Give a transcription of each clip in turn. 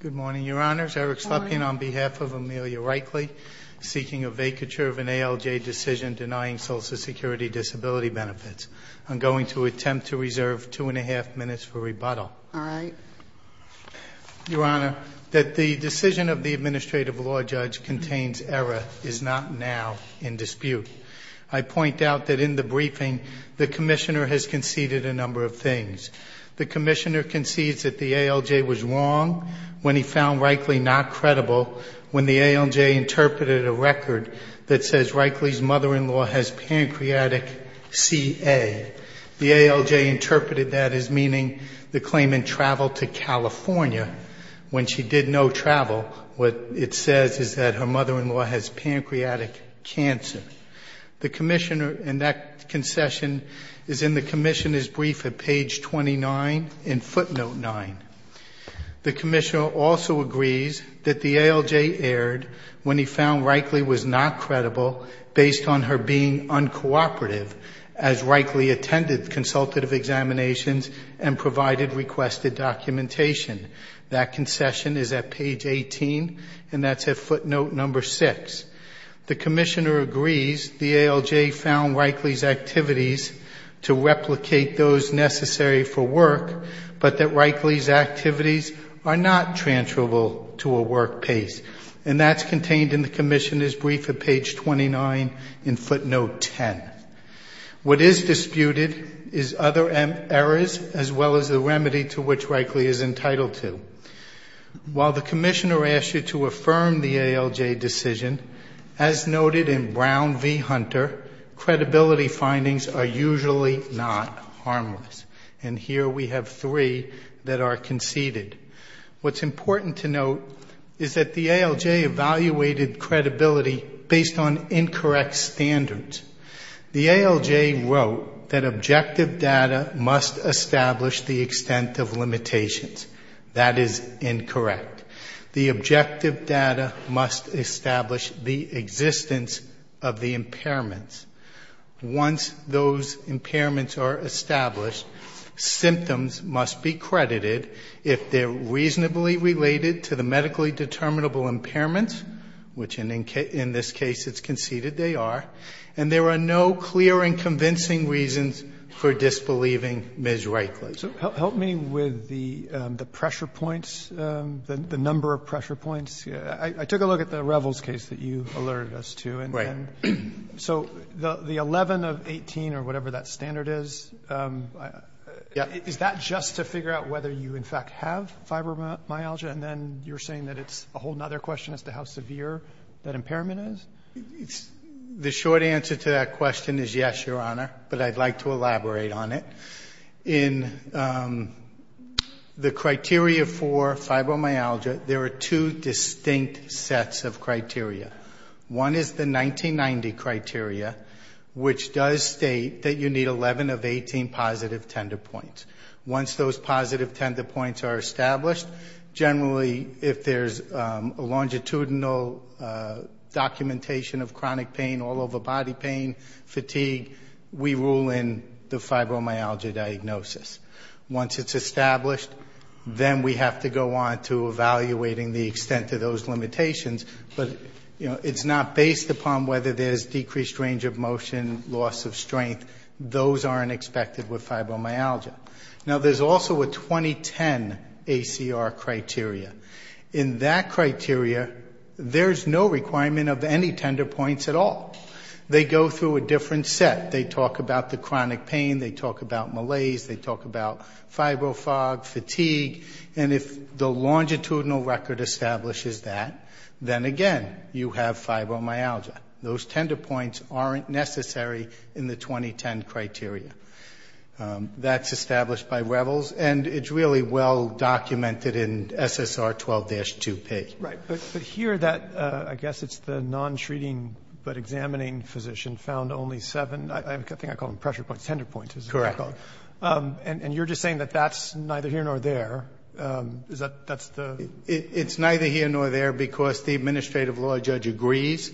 Good morning, Your Honors. Eric Slepian on behalf of Amelia Reichley, seeking a vacature of an ALJ decision denying Social Security disability benefits. I'm going to attempt to reserve two and a half minutes for rebuttal. Your Honor, that the decision of the administrative law judge contains error is not now in dispute. I point out that in the briefing, the commissioner has conceded a number of things. The commissioner concedes that the ALJ was wrong when he found Reichley not credible, when the ALJ interpreted a record that says Reichley's mother-in-law has pancreatic CA. The ALJ interpreted that as meaning the claimant traveled to California. When she did no travel, what it says is that her mother-in-law has pancreatic cancer. The commissioner in that concession is in the commissioner's brief at page 29 in footnote nine. The commissioner also agrees that the ALJ erred when he found Reichley was not credible based on her being uncooperative as Reichley attended consultative examinations and provided requested documentation. That concession is at page 18, and that's at footnote number six. The commissioner agrees the ALJ found Reichley's activities to replicate those necessary for work, but that Reichley's activities are not transferable to a work pace, and that's contained in the commissioner's brief at page 29 in footnote 10. What is disputed is other errors as well as the remedy to which Reichley is entitled to. While the commissioner asked you to affirm the ALJ decision, as noted in Brown v. Hunter, credibility findings are usually not. Harmless. And here we have three that are conceded. What's important to note is that the ALJ evaluated credibility based on incorrect standards. The ALJ wrote that objective data must establish the extent of limitations. That is incorrect. The objective data must establish the existence of the impairments. Once those impairments are established, symptoms must be credited if they're reasonably related to the medically determinable impairments, which in this case it's conceded they are, and there are no clear and convincing reasons for disbelieving Ms. Reichley. So help me with the pressure points, the number of pressure points. I took a look at the Revels case that you alerted us to, and so the 11 of 18 or whatever that standard is, is that just to figure out whether you in fact have fibromyalgia? And then you're saying that it's a whole other question as to how severe that impairment is? The short answer to that question is yes, Your Honor, but I'd like to elaborate on it. In the criteria for fibromyalgia, there are two distinct sets of criteria. One is the 1990 criteria, which does state that you need 11 of 18 positive tender points. Once those positive tender points are established, generally if there's a longitudinal documentation of chronic pain, all over body pain, fatigue, we rule in the fibromyalgia diagnosis. Once it's established, then we have to go on to evaluating the extent of those limitations, but it's not based upon whether there's decreased range of motion, loss of strength. Those aren't expected with fibromyalgia. Now there's also a 2010 ACR criteria. In that criteria, there's no requirement of any tender points at all. They go through a different set. They talk about the chronic pain, they talk about malaise, they talk about fibro fog, fatigue, and if the longitudinal record establishes that, then again, you have fibromyalgia. Those tender points aren't necessary in the 2010 criteria. That's established by Revels, and it's really well documented in SSR 12-2P. Right. But here, that, I guess it's the non-treating but examining physician found only seven, I think I call them pressure points, tender points, is that what you call it? Correct. And you're just saying that that's neither here nor there. Is that, that's the? It's neither here nor there because the administrative law judge agrees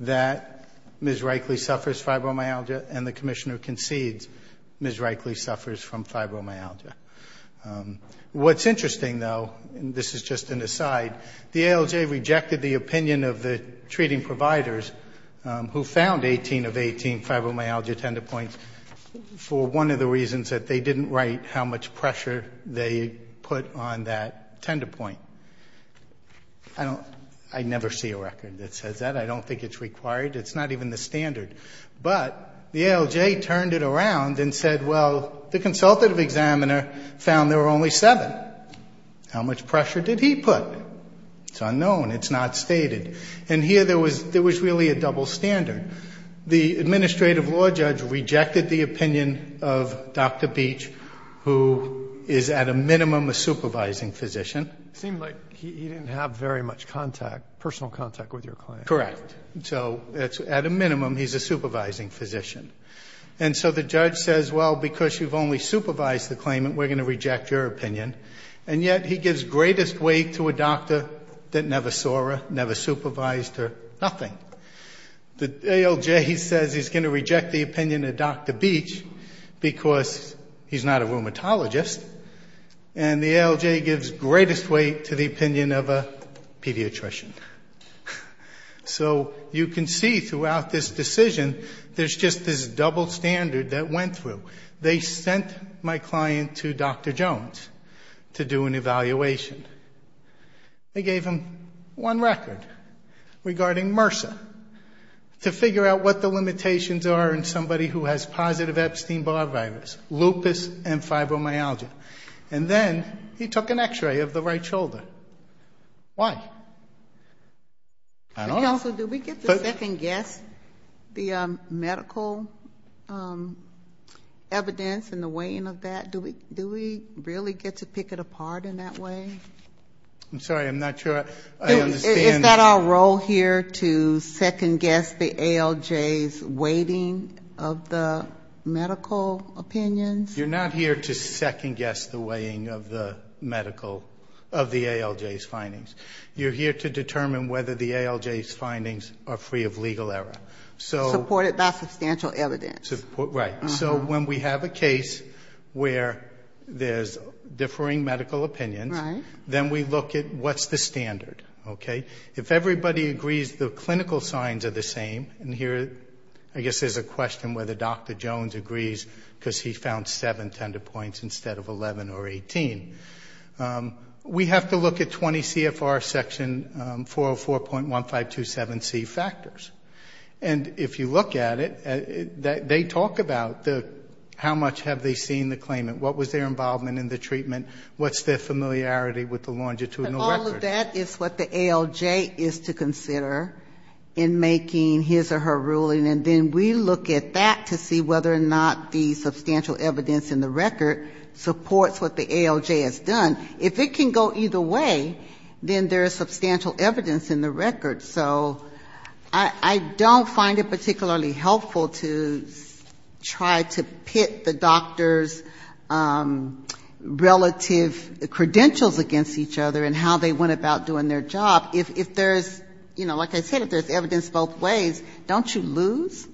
that Ms. Reikley suffers fibromyalgia and the commissioner concedes Ms. Reikley suffers from fibromyalgia. What's interesting though, and this is just an aside, the ALJ rejected the opinion of the treating providers who found 18 of 18 fibromyalgia tender points for one of the reasons that they didn't write how much pressure they put on that tender point. I don't, I never see a record that says that. I don't think it's required. It's not even the standard. But the ALJ turned it around and said, well, the consultative examiner found there were only seven. How much pressure did he put? It's unknown. It's not stated. And here there was, there was really a double standard. The administrative law judge rejected the opinion of Dr. Beach, who is at a minimum, a supervising physician. It seemed like he didn't have very much contact, personal contact with your client. Correct. So it's at a minimum, he's a supervising physician. And so the judge says, well, because you've only supervised the claimant, we're going to reject your opinion. And yet he gives greatest weight to a doctor that never saw her, never supervised her, nothing. The ALJ says he's going to reject the opinion of Dr. Beach because he's not a rheumatologist. And the ALJ gives greatest weight to the opinion of a pediatrician. So you can see throughout this decision, there's just this double standard that went through. They sent my client to Dr. Jones to do an evaluation. They gave him one record regarding MRSA to figure out what the limitations are in somebody who has positive Epstein-Barr virus, lupus and fibromyalgia. And then he took an x-ray of the right shoulder. Why? I don't know. Counsel, do we get to second guess the medical evidence and the weighing of that? Do we really get to pick it apart in that way? I'm sorry. I'm not sure I understand. Is that our role here to second guess the ALJ's weighting of the medical opinions? You're not here to second guess the weighing of the medical, of the ALJ's findings. You're here to determine whether the ALJ's findings are free of legal error. Supported by substantial evidence. Right. So when we have a case where there's differing medical opinions, then we look at what's the standard, okay? If everybody agrees the clinical signs are the same, and here I guess there's a question whether Dr. Jones agrees because he found seven tender points instead of 11 or 18, we have to look at 20 CFR section 404.1527C factors. And if you look at it, they talk about how much have they seen the claimant, what was their involvement in the treatment, what's their familiarity with the longitudinal record. All of that is what the ALJ is to consider in making his or her ruling. And then we look at that to see whether or not the substantial evidence in the record supports what the ALJ has done. If it can go either way, then there is substantial evidence in the record. So I don't find it particularly helpful to try to pit the doctor's relative credentials against each other and how they went about doing their job. If there's, you know, like I said, if there's evidence both ways, don't you lose?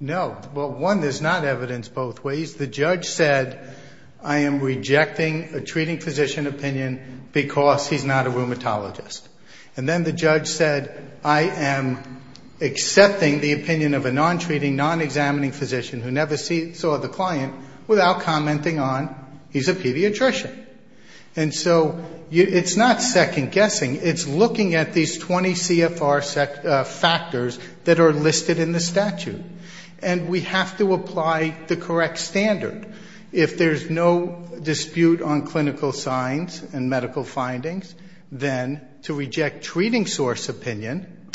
No. Well, one, there's not evidence both ways. The judge said I am rejecting a treating physician opinion because he's not a rheumatologist. And then the judge said I am accepting the opinion of a non-treating, non-examining physician who never saw the client without commenting on he's a pediatrician. And so it's not second-guessing. It's looking at these 20 CFR factors that are listed in the statute. And we have to apply the correct standard. If there's no dispute on clinical signs and medical findings, then to reject treating source opinion,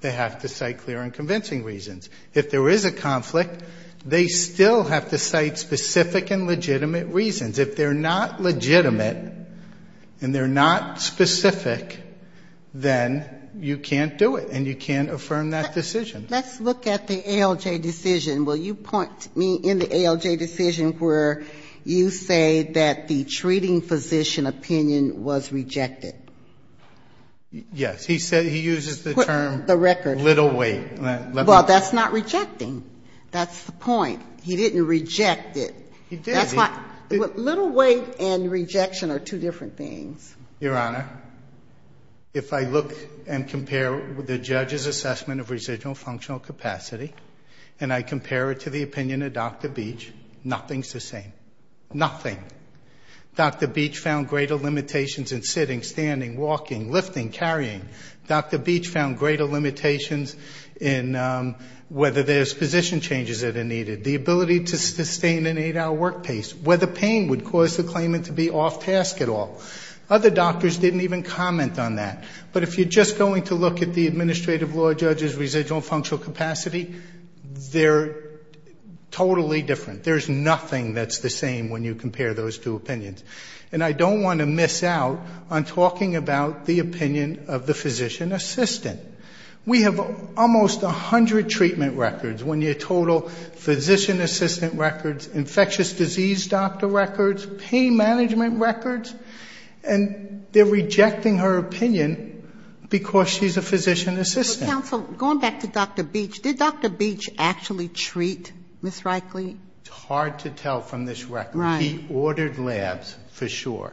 they have to cite clear and convincing reasons. If there is a conflict, they still have to cite specific and legitimate reasons. If they're not legitimate and they're not specific, then you can't do it. And you can't affirm that decision. Let's look at the ALJ decision. Will you point me in the ALJ decision where you say that the treating physician opinion was rejected? Yes. He said he uses the term little weight. Well, that's not rejecting. That's the point. He didn't reject it. He did. Little weight and rejection are two different things. Your Honor, if I look and compare the judge's assessment of residual functional capacity and I compare it to the opinion of Dr. Beach, nothing's the same. Nothing. Dr. Beach found greater limitations in sitting, standing, walking, lifting, carrying. Dr. Beach found greater limitations in whether there's position changes that are needed, the ability to sustain an eight-hour work pace, whether pain would cause the claimant to be off task at all. Other doctors didn't even comment on that. But if you're just going to look at the administrative law judge's residual functional capacity, they're totally different. There's nothing that's the same when you compare those two opinions. And I don't want to miss out on talking about the opinion of the physician assistant. We have almost 100 treatment records, when your total physician assistant records, infectious disease doctor records, pain management records, and they're rejecting her opinion because she's a physician assistant. Counsel, going back to Dr. Beach, did Dr. Beach actually treat Ms. Reichle? It's hard to tell from this record. Right. We ordered labs, for sure.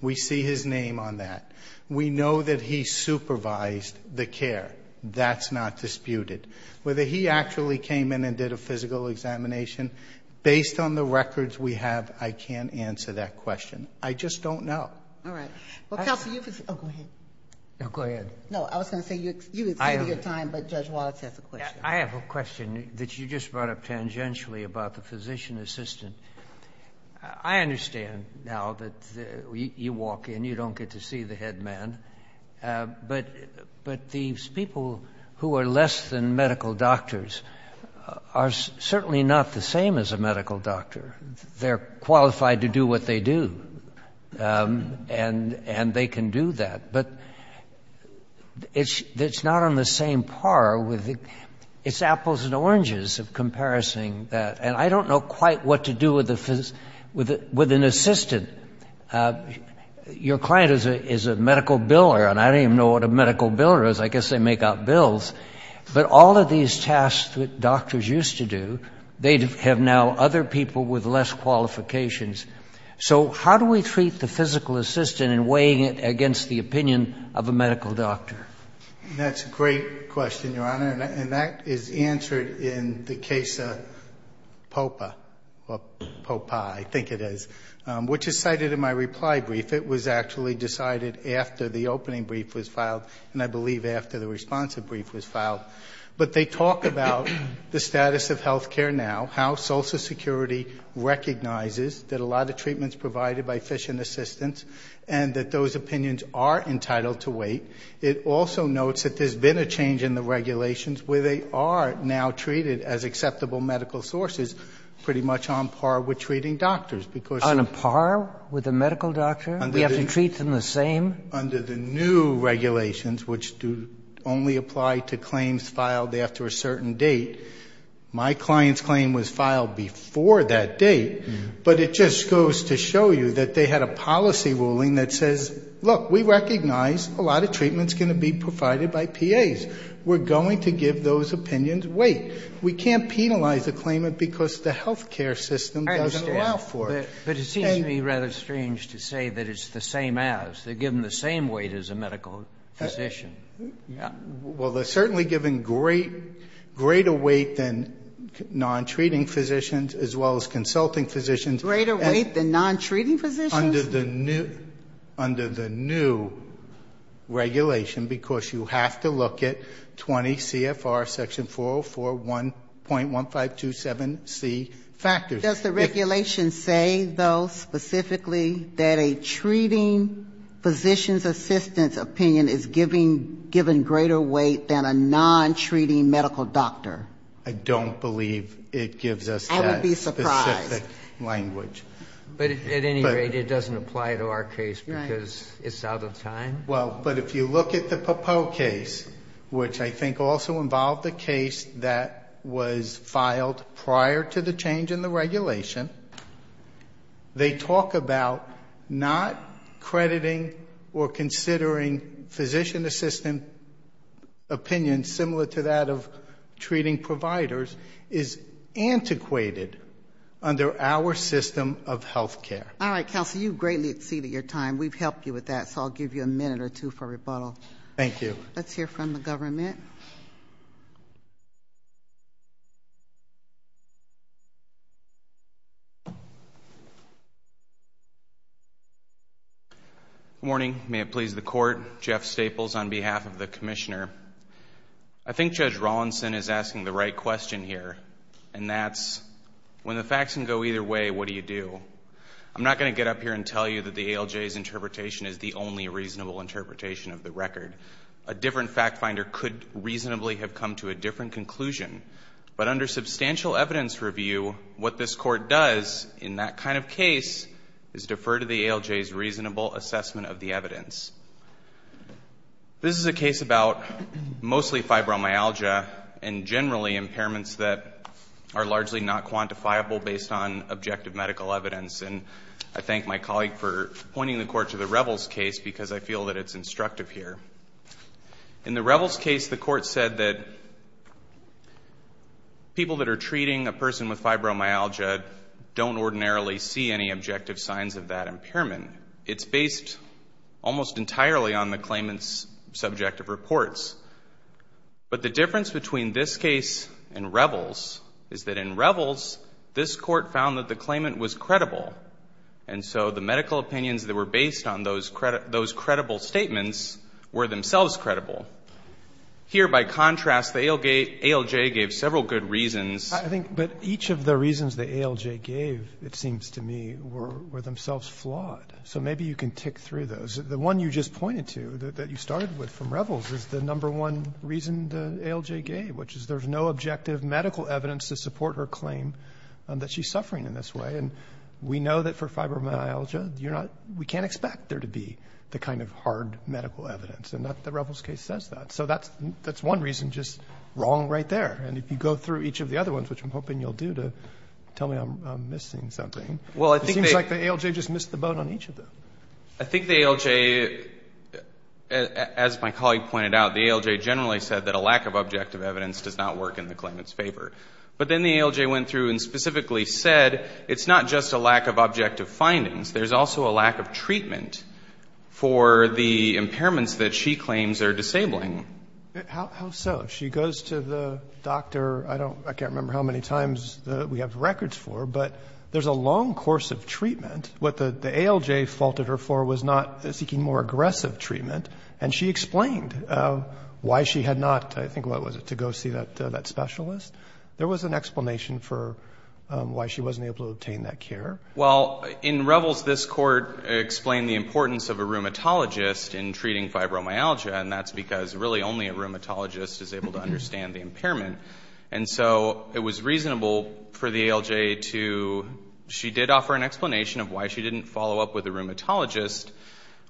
We see his name on that. We know that he supervised the care. That's not disputed. Whether he actually came in and did a physical examination, based on the records we have, I can't answer that question. I just don't know. All right. Well, Counsel, you can say... Oh, go ahead. Go ahead. No, I was going to say you exceeded your time, but Judge Wallace has a question. I have a question that you just brought up tangentially about the physician assistant. I understand now that you walk in, you don't get to see the head man, but these people who are less than medical doctors are certainly not the same as a medical doctor. They're qualified to do what they do, and they can do that. But it's not on the same par. It's apples and oranges of comparison. And I don't know quite what to do with an assistant. Your client is a medical biller, and I don't even know what a medical biller is. I guess they make out bills. But all of these tasks that doctors used to do, they have now other people with less qualifications. So how do we treat the physical assistant in weighing it against the opinion of a medical doctor? That's a great question, Your Honor. And that is answered in the case of POPA, or POPA, I think it is, which is cited in my reply brief. It was actually decided after the opening brief was filed, and I believe after the responsive brief was filed. But they talk about the status of health care now, how Social Security recognizes that a lot of treatment is provided by physician assistants, and that those opinions are entitled to weight. It also notes that there's been a change in the regulations where they are now treated as acceptable medical sources, pretty much on par with treating doctors. On a par with a medical doctor? We have to treat them the same? Under the new regulations, which only apply to claims filed after a certain date, my client's claim was filed before that date. But it just goes to show you that they had a policy ruling that says, look, we recognize a lot of treatment is going to be provided by PAs. We're going to give those opinions weight. We can't penalize the claimant because the health care system doesn't allow for it. But it seems to me rather strange to say that it's the same as. They're given the same weight as a medical physician. Well, they're certainly given greater weight than non-treating physicians as well as consulting physicians. Greater weight than non-treating physicians? Under the new regulation, because you have to look at 20 CFR section 404.1527C factors. Does the regulation say, though, specifically, that a treating physician's assistant's opinion is given greater weight than a non-treating medical doctor? I don't believe it gives us that specific language. I would be surprised. But at any rate, it doesn't apply to our case because it's out of time? Well, but if you look at the Popoe case, which I think also involved a case that was filed prior to the change in the regulation, they talk about not crediting or considering physician assistant opinions similar to that of treating providers is antiquated under our system of health care. All right, counsel. You greatly exceeded your time. We've helped you with that, so I'll give you a minute or two for rebuttal. Thank you. Let's hear from the government. Good morning. May it please the court. Jeff Staples on behalf of the commissioner. I think Judge Rawlinson is asking the right question here, and that's, when the facts can go either way, what do you do? I'm not going to get up here and tell you that the ALJ's interpretation is the only reasonable interpretation of the record. A different fact finder could reasonably have come to a different conclusion. But under substantial evidence review, what this court does in that kind of case is defer to the ALJ's reasonable assessment of the evidence. This is a case about mostly fibromyalgia, and generally impairments that are largely not quantifiable based on objective medical evidence. And I thank my colleague for pointing the court to the Revels case because I feel that it's instructive here. In the Revels case, the court said that people that are treating a person with fibromyalgia don't ordinarily see any objective signs of that impairment. It's based almost entirely on the claimant's subjective reports. But the difference between this case and Revels is that in Revels, this court found that the claimant was credible. And so the medical opinions that were based on those credible statements were themselves credible. Here, by contrast, the ALJ gave several good reasons. But each of the reasons the ALJ gave, it seems to me, were themselves flawed. So maybe you can tick through those. The one you just pointed to, that you started with from Revels, is the number one reason the ALJ gave, which is there's no objective medical evidence to support her claim that she's suffering in this way. And we know that for fibromyalgia, we can't expect there to be the kind of hard medical evidence. And the Revels case says that. So that's one reason just wrong right there. And if you go through each of the other ones, which I'm hoping you'll do, to tell me I'm missing something, it seems like the ALJ just missed the boat on each of them. I think the ALJ, as my colleague pointed out, the ALJ generally said that a lack of objective evidence does not work in the claimant's favor. But then the ALJ went through and specifically said, it's not just a lack of objective findings, there's also a lack of treatment for the impairments that she claims are disabling. How so? She goes to the doctor, I can't remember how many times we have records for, but there's a long course of treatment. What the ALJ faulted her for was not seeking more aggressive treatment. And she explained why she had not, I think, what was it, to go see that specialist. There was an explanation for why she wasn't able to obtain that care. Well, in Revels, this court explained the importance of a rheumatologist in treating fibromyalgia, and that's because really only a rheumatologist is able to understand the impairment. And so it was reasonable for the ALJ to, she did offer an explanation of why she didn't follow up with a rheumatologist,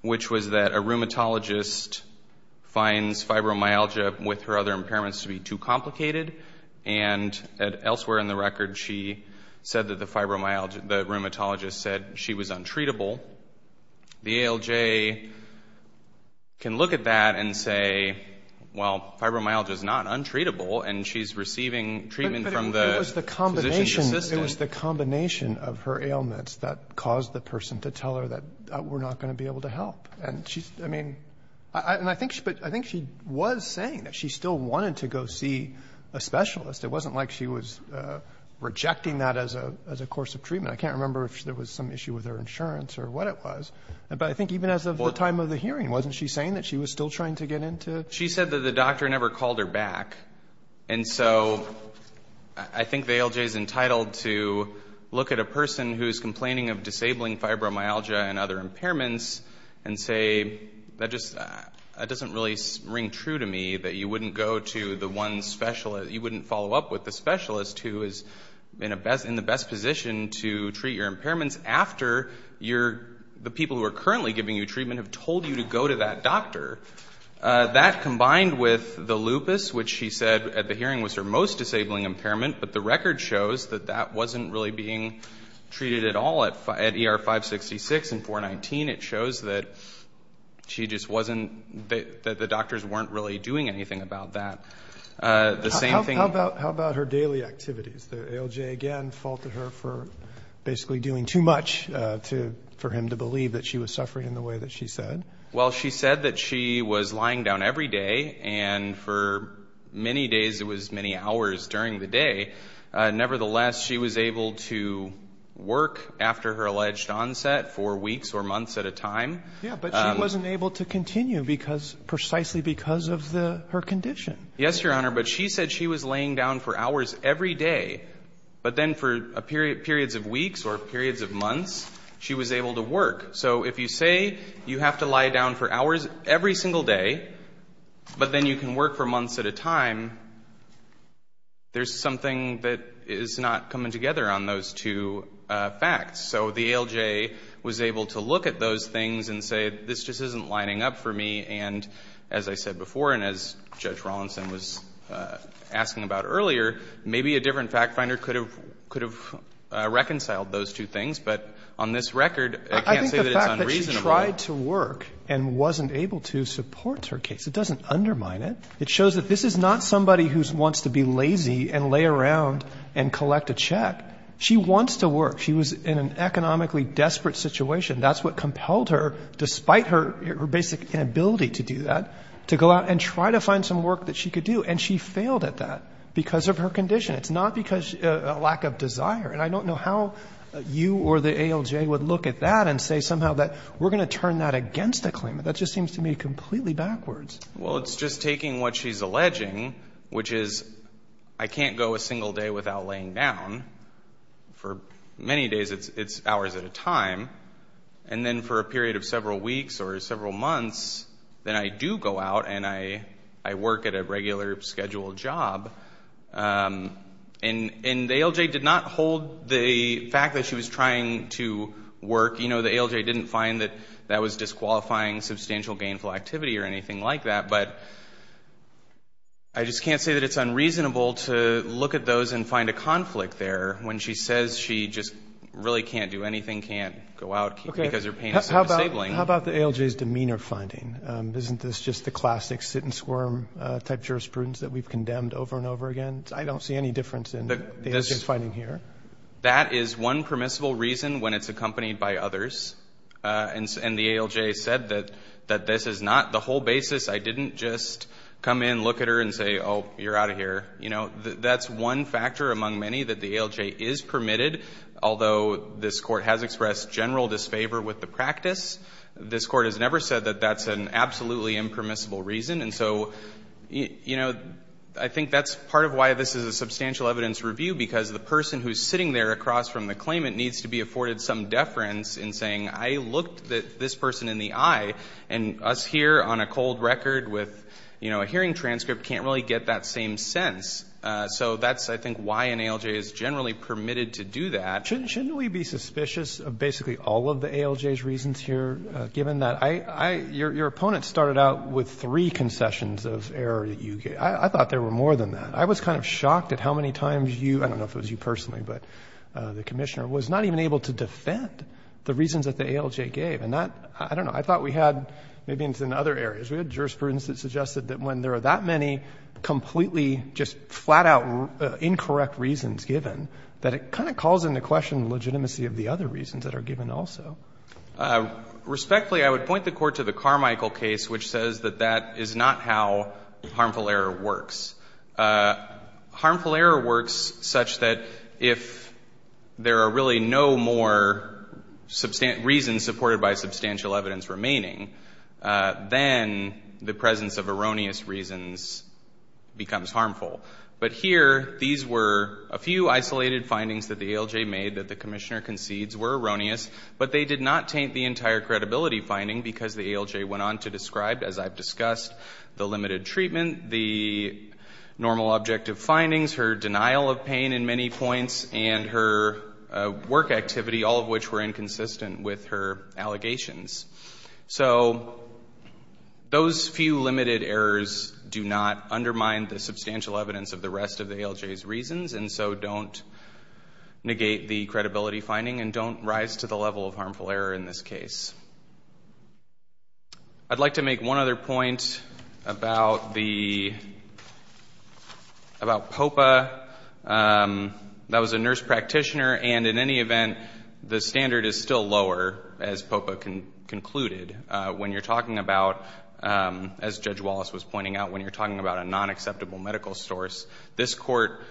which was that a rheumatologist finds fibromyalgia with her other impairments to be too complicated. And elsewhere in the record, she said that the rheumatologist said she was untreatable. The ALJ can look at that and say, well, fibromyalgia is not untreatable, and she's receiving treatment from the physician's assistant. It was the combination of her ailments that caused the person to tell her that we're not going to be able to help. And she's, I mean, I think she was saying that she still wanted to go see a specialist. It wasn't like she was rejecting that as a course of treatment. I can't remember if there was some issue with her insurance or what it was. But I think even as of the time of the hearing, wasn't she saying that she was still trying to get into? She said that the doctor never called her back. And so I think the ALJ is entitled to look at a person who is complaining of disabling fibromyalgia and other impairments and say, that doesn't really ring true to me, that you wouldn't go to the one specialist, you wouldn't follow up with the specialist who is in the best position to treat your impairments after the people who are currently giving you treatment have told you to go to that doctor. That combined with the lupus, which she said at the hearing was her most disabling impairment, but the record shows that that wasn't really being treated at all at ER 566 and 419. It shows that she just wasn't, that the doctors weren't really doing anything about that. How about her daily activities? The ALJ again faulted her for basically doing too much for him to believe that she was suffering in the way that she said? Well, she said that she was lying down every day and for many days, it was many hours during the day. Nevertheless, she was able to work after her alleged onset for weeks or months at a time. Yeah, but she wasn't able to continue because, precisely because of her condition. Yes, Your Honor, but she said she was laying down for hours every day, but then for periods of weeks or periods of months, she was able to work. So if you say you have to lie down for hours every single day, but then you can work for months at a time, there's something that is not coming together on those two facts. So the ALJ was able to look at those things and say, this just isn't lining up for me. And as I said before, and as Judge Rawlinson was asking about earlier, maybe a different fact finder could have reconciled those two things. But on this record, I can't say that it's unreasonable. I think the fact that she tried to work and wasn't able to supports her case, it doesn't undermine it. It shows that this is not somebody who wants to be lazy and lay around and collect a check. She wants to work. She was in an economically desperate situation. That's what compelled her, despite her basic inability to do that, to go out and try to find some work that she could do. And she failed at that because of her condition. It's not because of a lack of desire. And I don't know how you or the ALJ would look at that and say somehow that we're going to turn that against a claimant. That just seems to me completely backwards. Well, it's just taking what she's alleging, which is, I can't go a single day without laying down. For many days, it's hours at a time. And then for a period of several weeks or several months, then I do go out and I work at a regular scheduled job. And the ALJ did not hold the fact that she was trying to work. You know, the ALJ didn't find that that was disqualifying substantial gainful activity or anything like that. But I just can't say that it's unreasonable to look at those and find a conflict there when she says she just really can't do anything, can't go out because her pain is so disabling. How about the ALJ's demeanor finding? Isn't this just the classic sit and squirm type jurisprudence that we've condemned over and over again? I don't see any difference in the ALJ's finding here. That is one permissible reason when it's accompanied by others. And the ALJ said that this is not the whole basis. I didn't just come in, look at her, and say, oh, you're out of here. You know, that's one factor among many that the ALJ is permitted. Although this Court has expressed general disfavor with the practice, this Court has never said that that's an absolutely impermissible reason. And so, you know, I think that's part of why this is a substantial evidence review because the person who's sitting there across from the claimant needs to be afforded some deference in saying I looked this person in the eye and us here on a cold record with, you know, a hearing transcript can't really get that same sense. So that's, I think, why an ALJ is generally permitted to do that. Shouldn't we be suspicious of basically all of the ALJ's reasons here, given that your opponent started out with three concessions of error that you gave. I thought there were more than that. I was kind of shocked at how many times you, I don't know if it was you personally, but the Commissioner, was not even able to defend the reasons that the ALJ gave. And that, I don't know, I thought we had maybe in other areas. We had jurisprudence that suggested that when there are that many completely just flat-out incorrect reasons given, that it kind of calls into question the legitimacy of the other reasons that are given also. Respectfully, I would point the Court to the Carmichael case, which says that that is not how harmful error works. Harmful error works such that if there are really no more reasons supported by substantial evidence remaining, then the presence of erroneous reasons becomes harmful. But here, these were a few isolated findings that the ALJ made that the Commissioner concedes were erroneous, but they did not taint the entire credibility finding because the ALJ went on to describe, as I've discussed, the limited treatment, the normal objective findings, her denial of pain in many points, and her work activity, all of which were inconsistent with her allegations. So those few limited errors do not undermine the substantial evidence of the rest of the ALJ's reasons, and so don't negate the credibility finding and don't rise to the level of harmful error in this case. I'd like to make one other point about POPA. That was a nurse practitioner, and in any event, the standard is still lower, as POPA concluded. When you're talking about, as Judge Wallace was pointing out, when you're talking about a non-acceptable medical source, this Court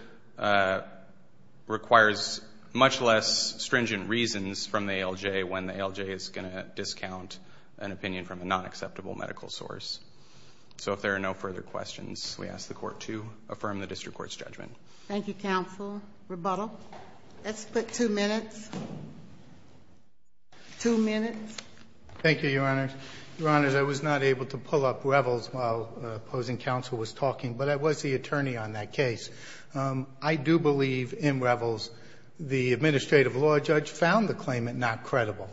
requires much less stringent reasons from the ALJ when the ALJ is going to discount an opinion from a non-acceptable medical source. So if there are no further questions, we ask the Court to affirm the district court's judgment. Thank you, counsel. Rebuttal? Let's put two minutes. Two minutes. Thank you, Your Honors. Your Honors, I was not able to pull up revels while opposing counsel was talking, but I was the attorney on that case. I do believe in revels the administrative law judge found the claimant not credible,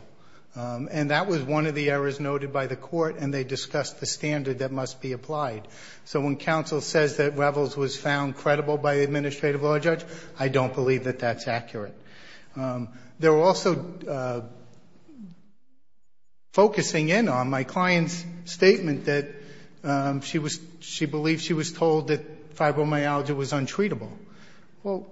and that was one of the errors noted by the Court, and they discussed the standard that must be applied. So when counsel says that revels was found credible by the administrative law judge, I don't believe that that's accurate. They were also focusing in on my client's statement that she believed she was told that fibromyalgia was untreatable. Well,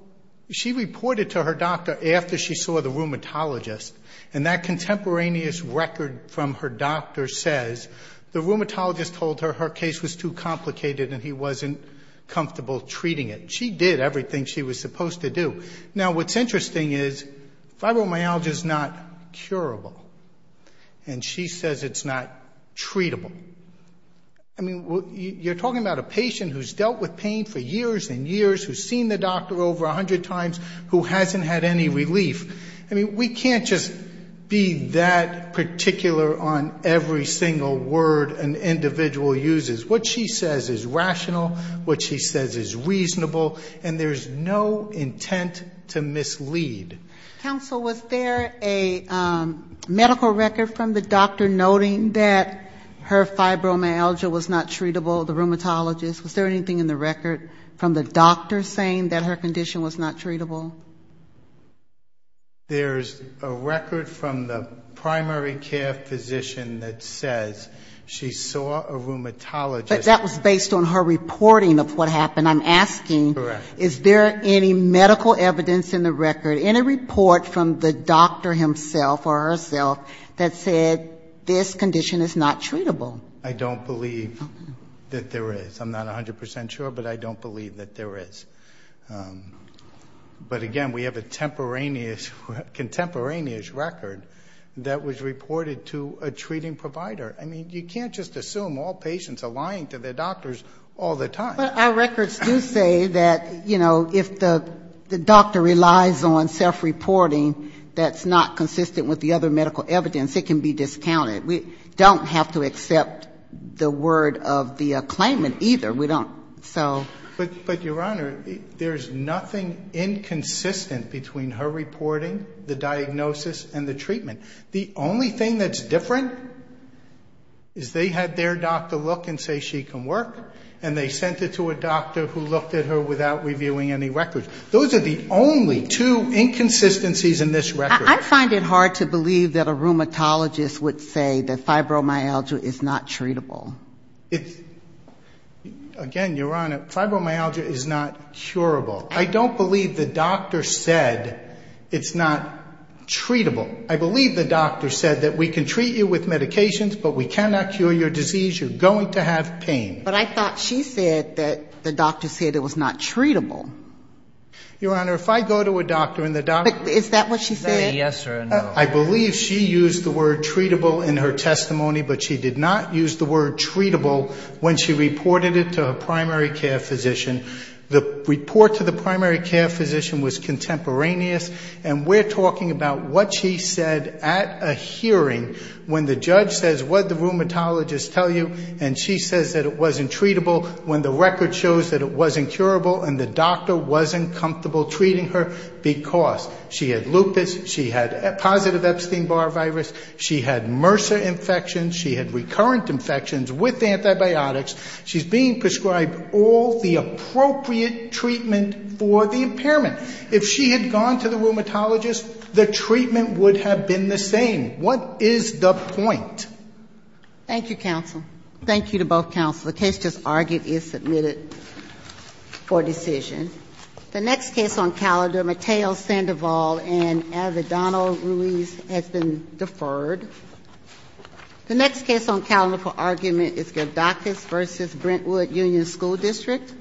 she reported to her doctor after she saw the rheumatologist, and that contemporaneous record from her doctor says the rheumatologist told her her case was too complicated and he wasn't comfortable treating it. She did everything she was supposed to do. Now, what's interesting is fibromyalgia is not curable, and she says it's not treatable. I mean, you're talking about a patient who's dealt with pain for years and years, who's seen the doctor over 100 times, who hasn't had any relief. I mean, we can't just be that particular on every single word an individual uses. What she says is rational, what she says is reasonable, and there's no intent to mislead. Counsel, was there a medical record from the doctor noting that her fibromyalgia was not treatable, the rheumatologist? Was there anything in the record from the doctor saying that her condition was not treatable? There's a record from the primary care physician that says she saw a rheumatologist. But that was based on her reporting of what happened. I'm asking, is there any medical evidence in the record? Any report from the doctor himself or herself that said this condition is not treatable? I don't believe that there is. I'm not 100% sure, but I don't believe that there is. But again, we have a contemporaneous record that was reported to a treating provider. I mean, you can't just assume all patients are lying to their doctors all the time. But our records do say that, you know, if the doctor relies on self-reporting that's not consistent with the other medical evidence, it can be discounted. We don't have to accept the word of the claimant either. We don't. So... But, Your Honor, there's nothing inconsistent between her reporting, the diagnosis, and the treatment. The only thing that's different is they had their doctor look and say she can work, and they sent it to a doctor who looked at her without reviewing any records. Those are the only two inconsistencies in this record. I find it hard to believe that a rheumatologist would say that fibromyalgia is not treatable. It's... Again, Your Honor, fibromyalgia is not curable. I don't believe the doctor said it's not treatable. I believe the doctor said that we can treat you with medications, but we cannot cure your disease. You're going to have pain. But I thought she said that the doctor said it was not treatable. Your Honor, if I go to a doctor and the doctor... Is that what she said? Yes or no. I believe she used the word treatable in her testimony, but she did not use the word treatable when she reported it to a primary care physician. The report to the primary care physician was contemporaneous, and we're talking about what she said at a hearing when the judge says, what did the rheumatologist tell you? And she says that it wasn't treatable when the record shows that it wasn't curable and the doctor wasn't comfortable treating her because she had lupus, she had positive Epstein-Barr virus, she had MRSA infections, she had recurrent infections with antibiotics. She's being prescribed all the appropriate treatment for the impairment. If she had gone to the rheumatologist, the treatment would have been the same. What is the point? Thank you, counsel. Thank you to both counsel. The case just argued is submitted for decision. The next case on calendar, Mateo Sandoval and Avedano Ruiz has been deferred. The next case on calendar for argument is Gerdakis v. Brentwood Union School District.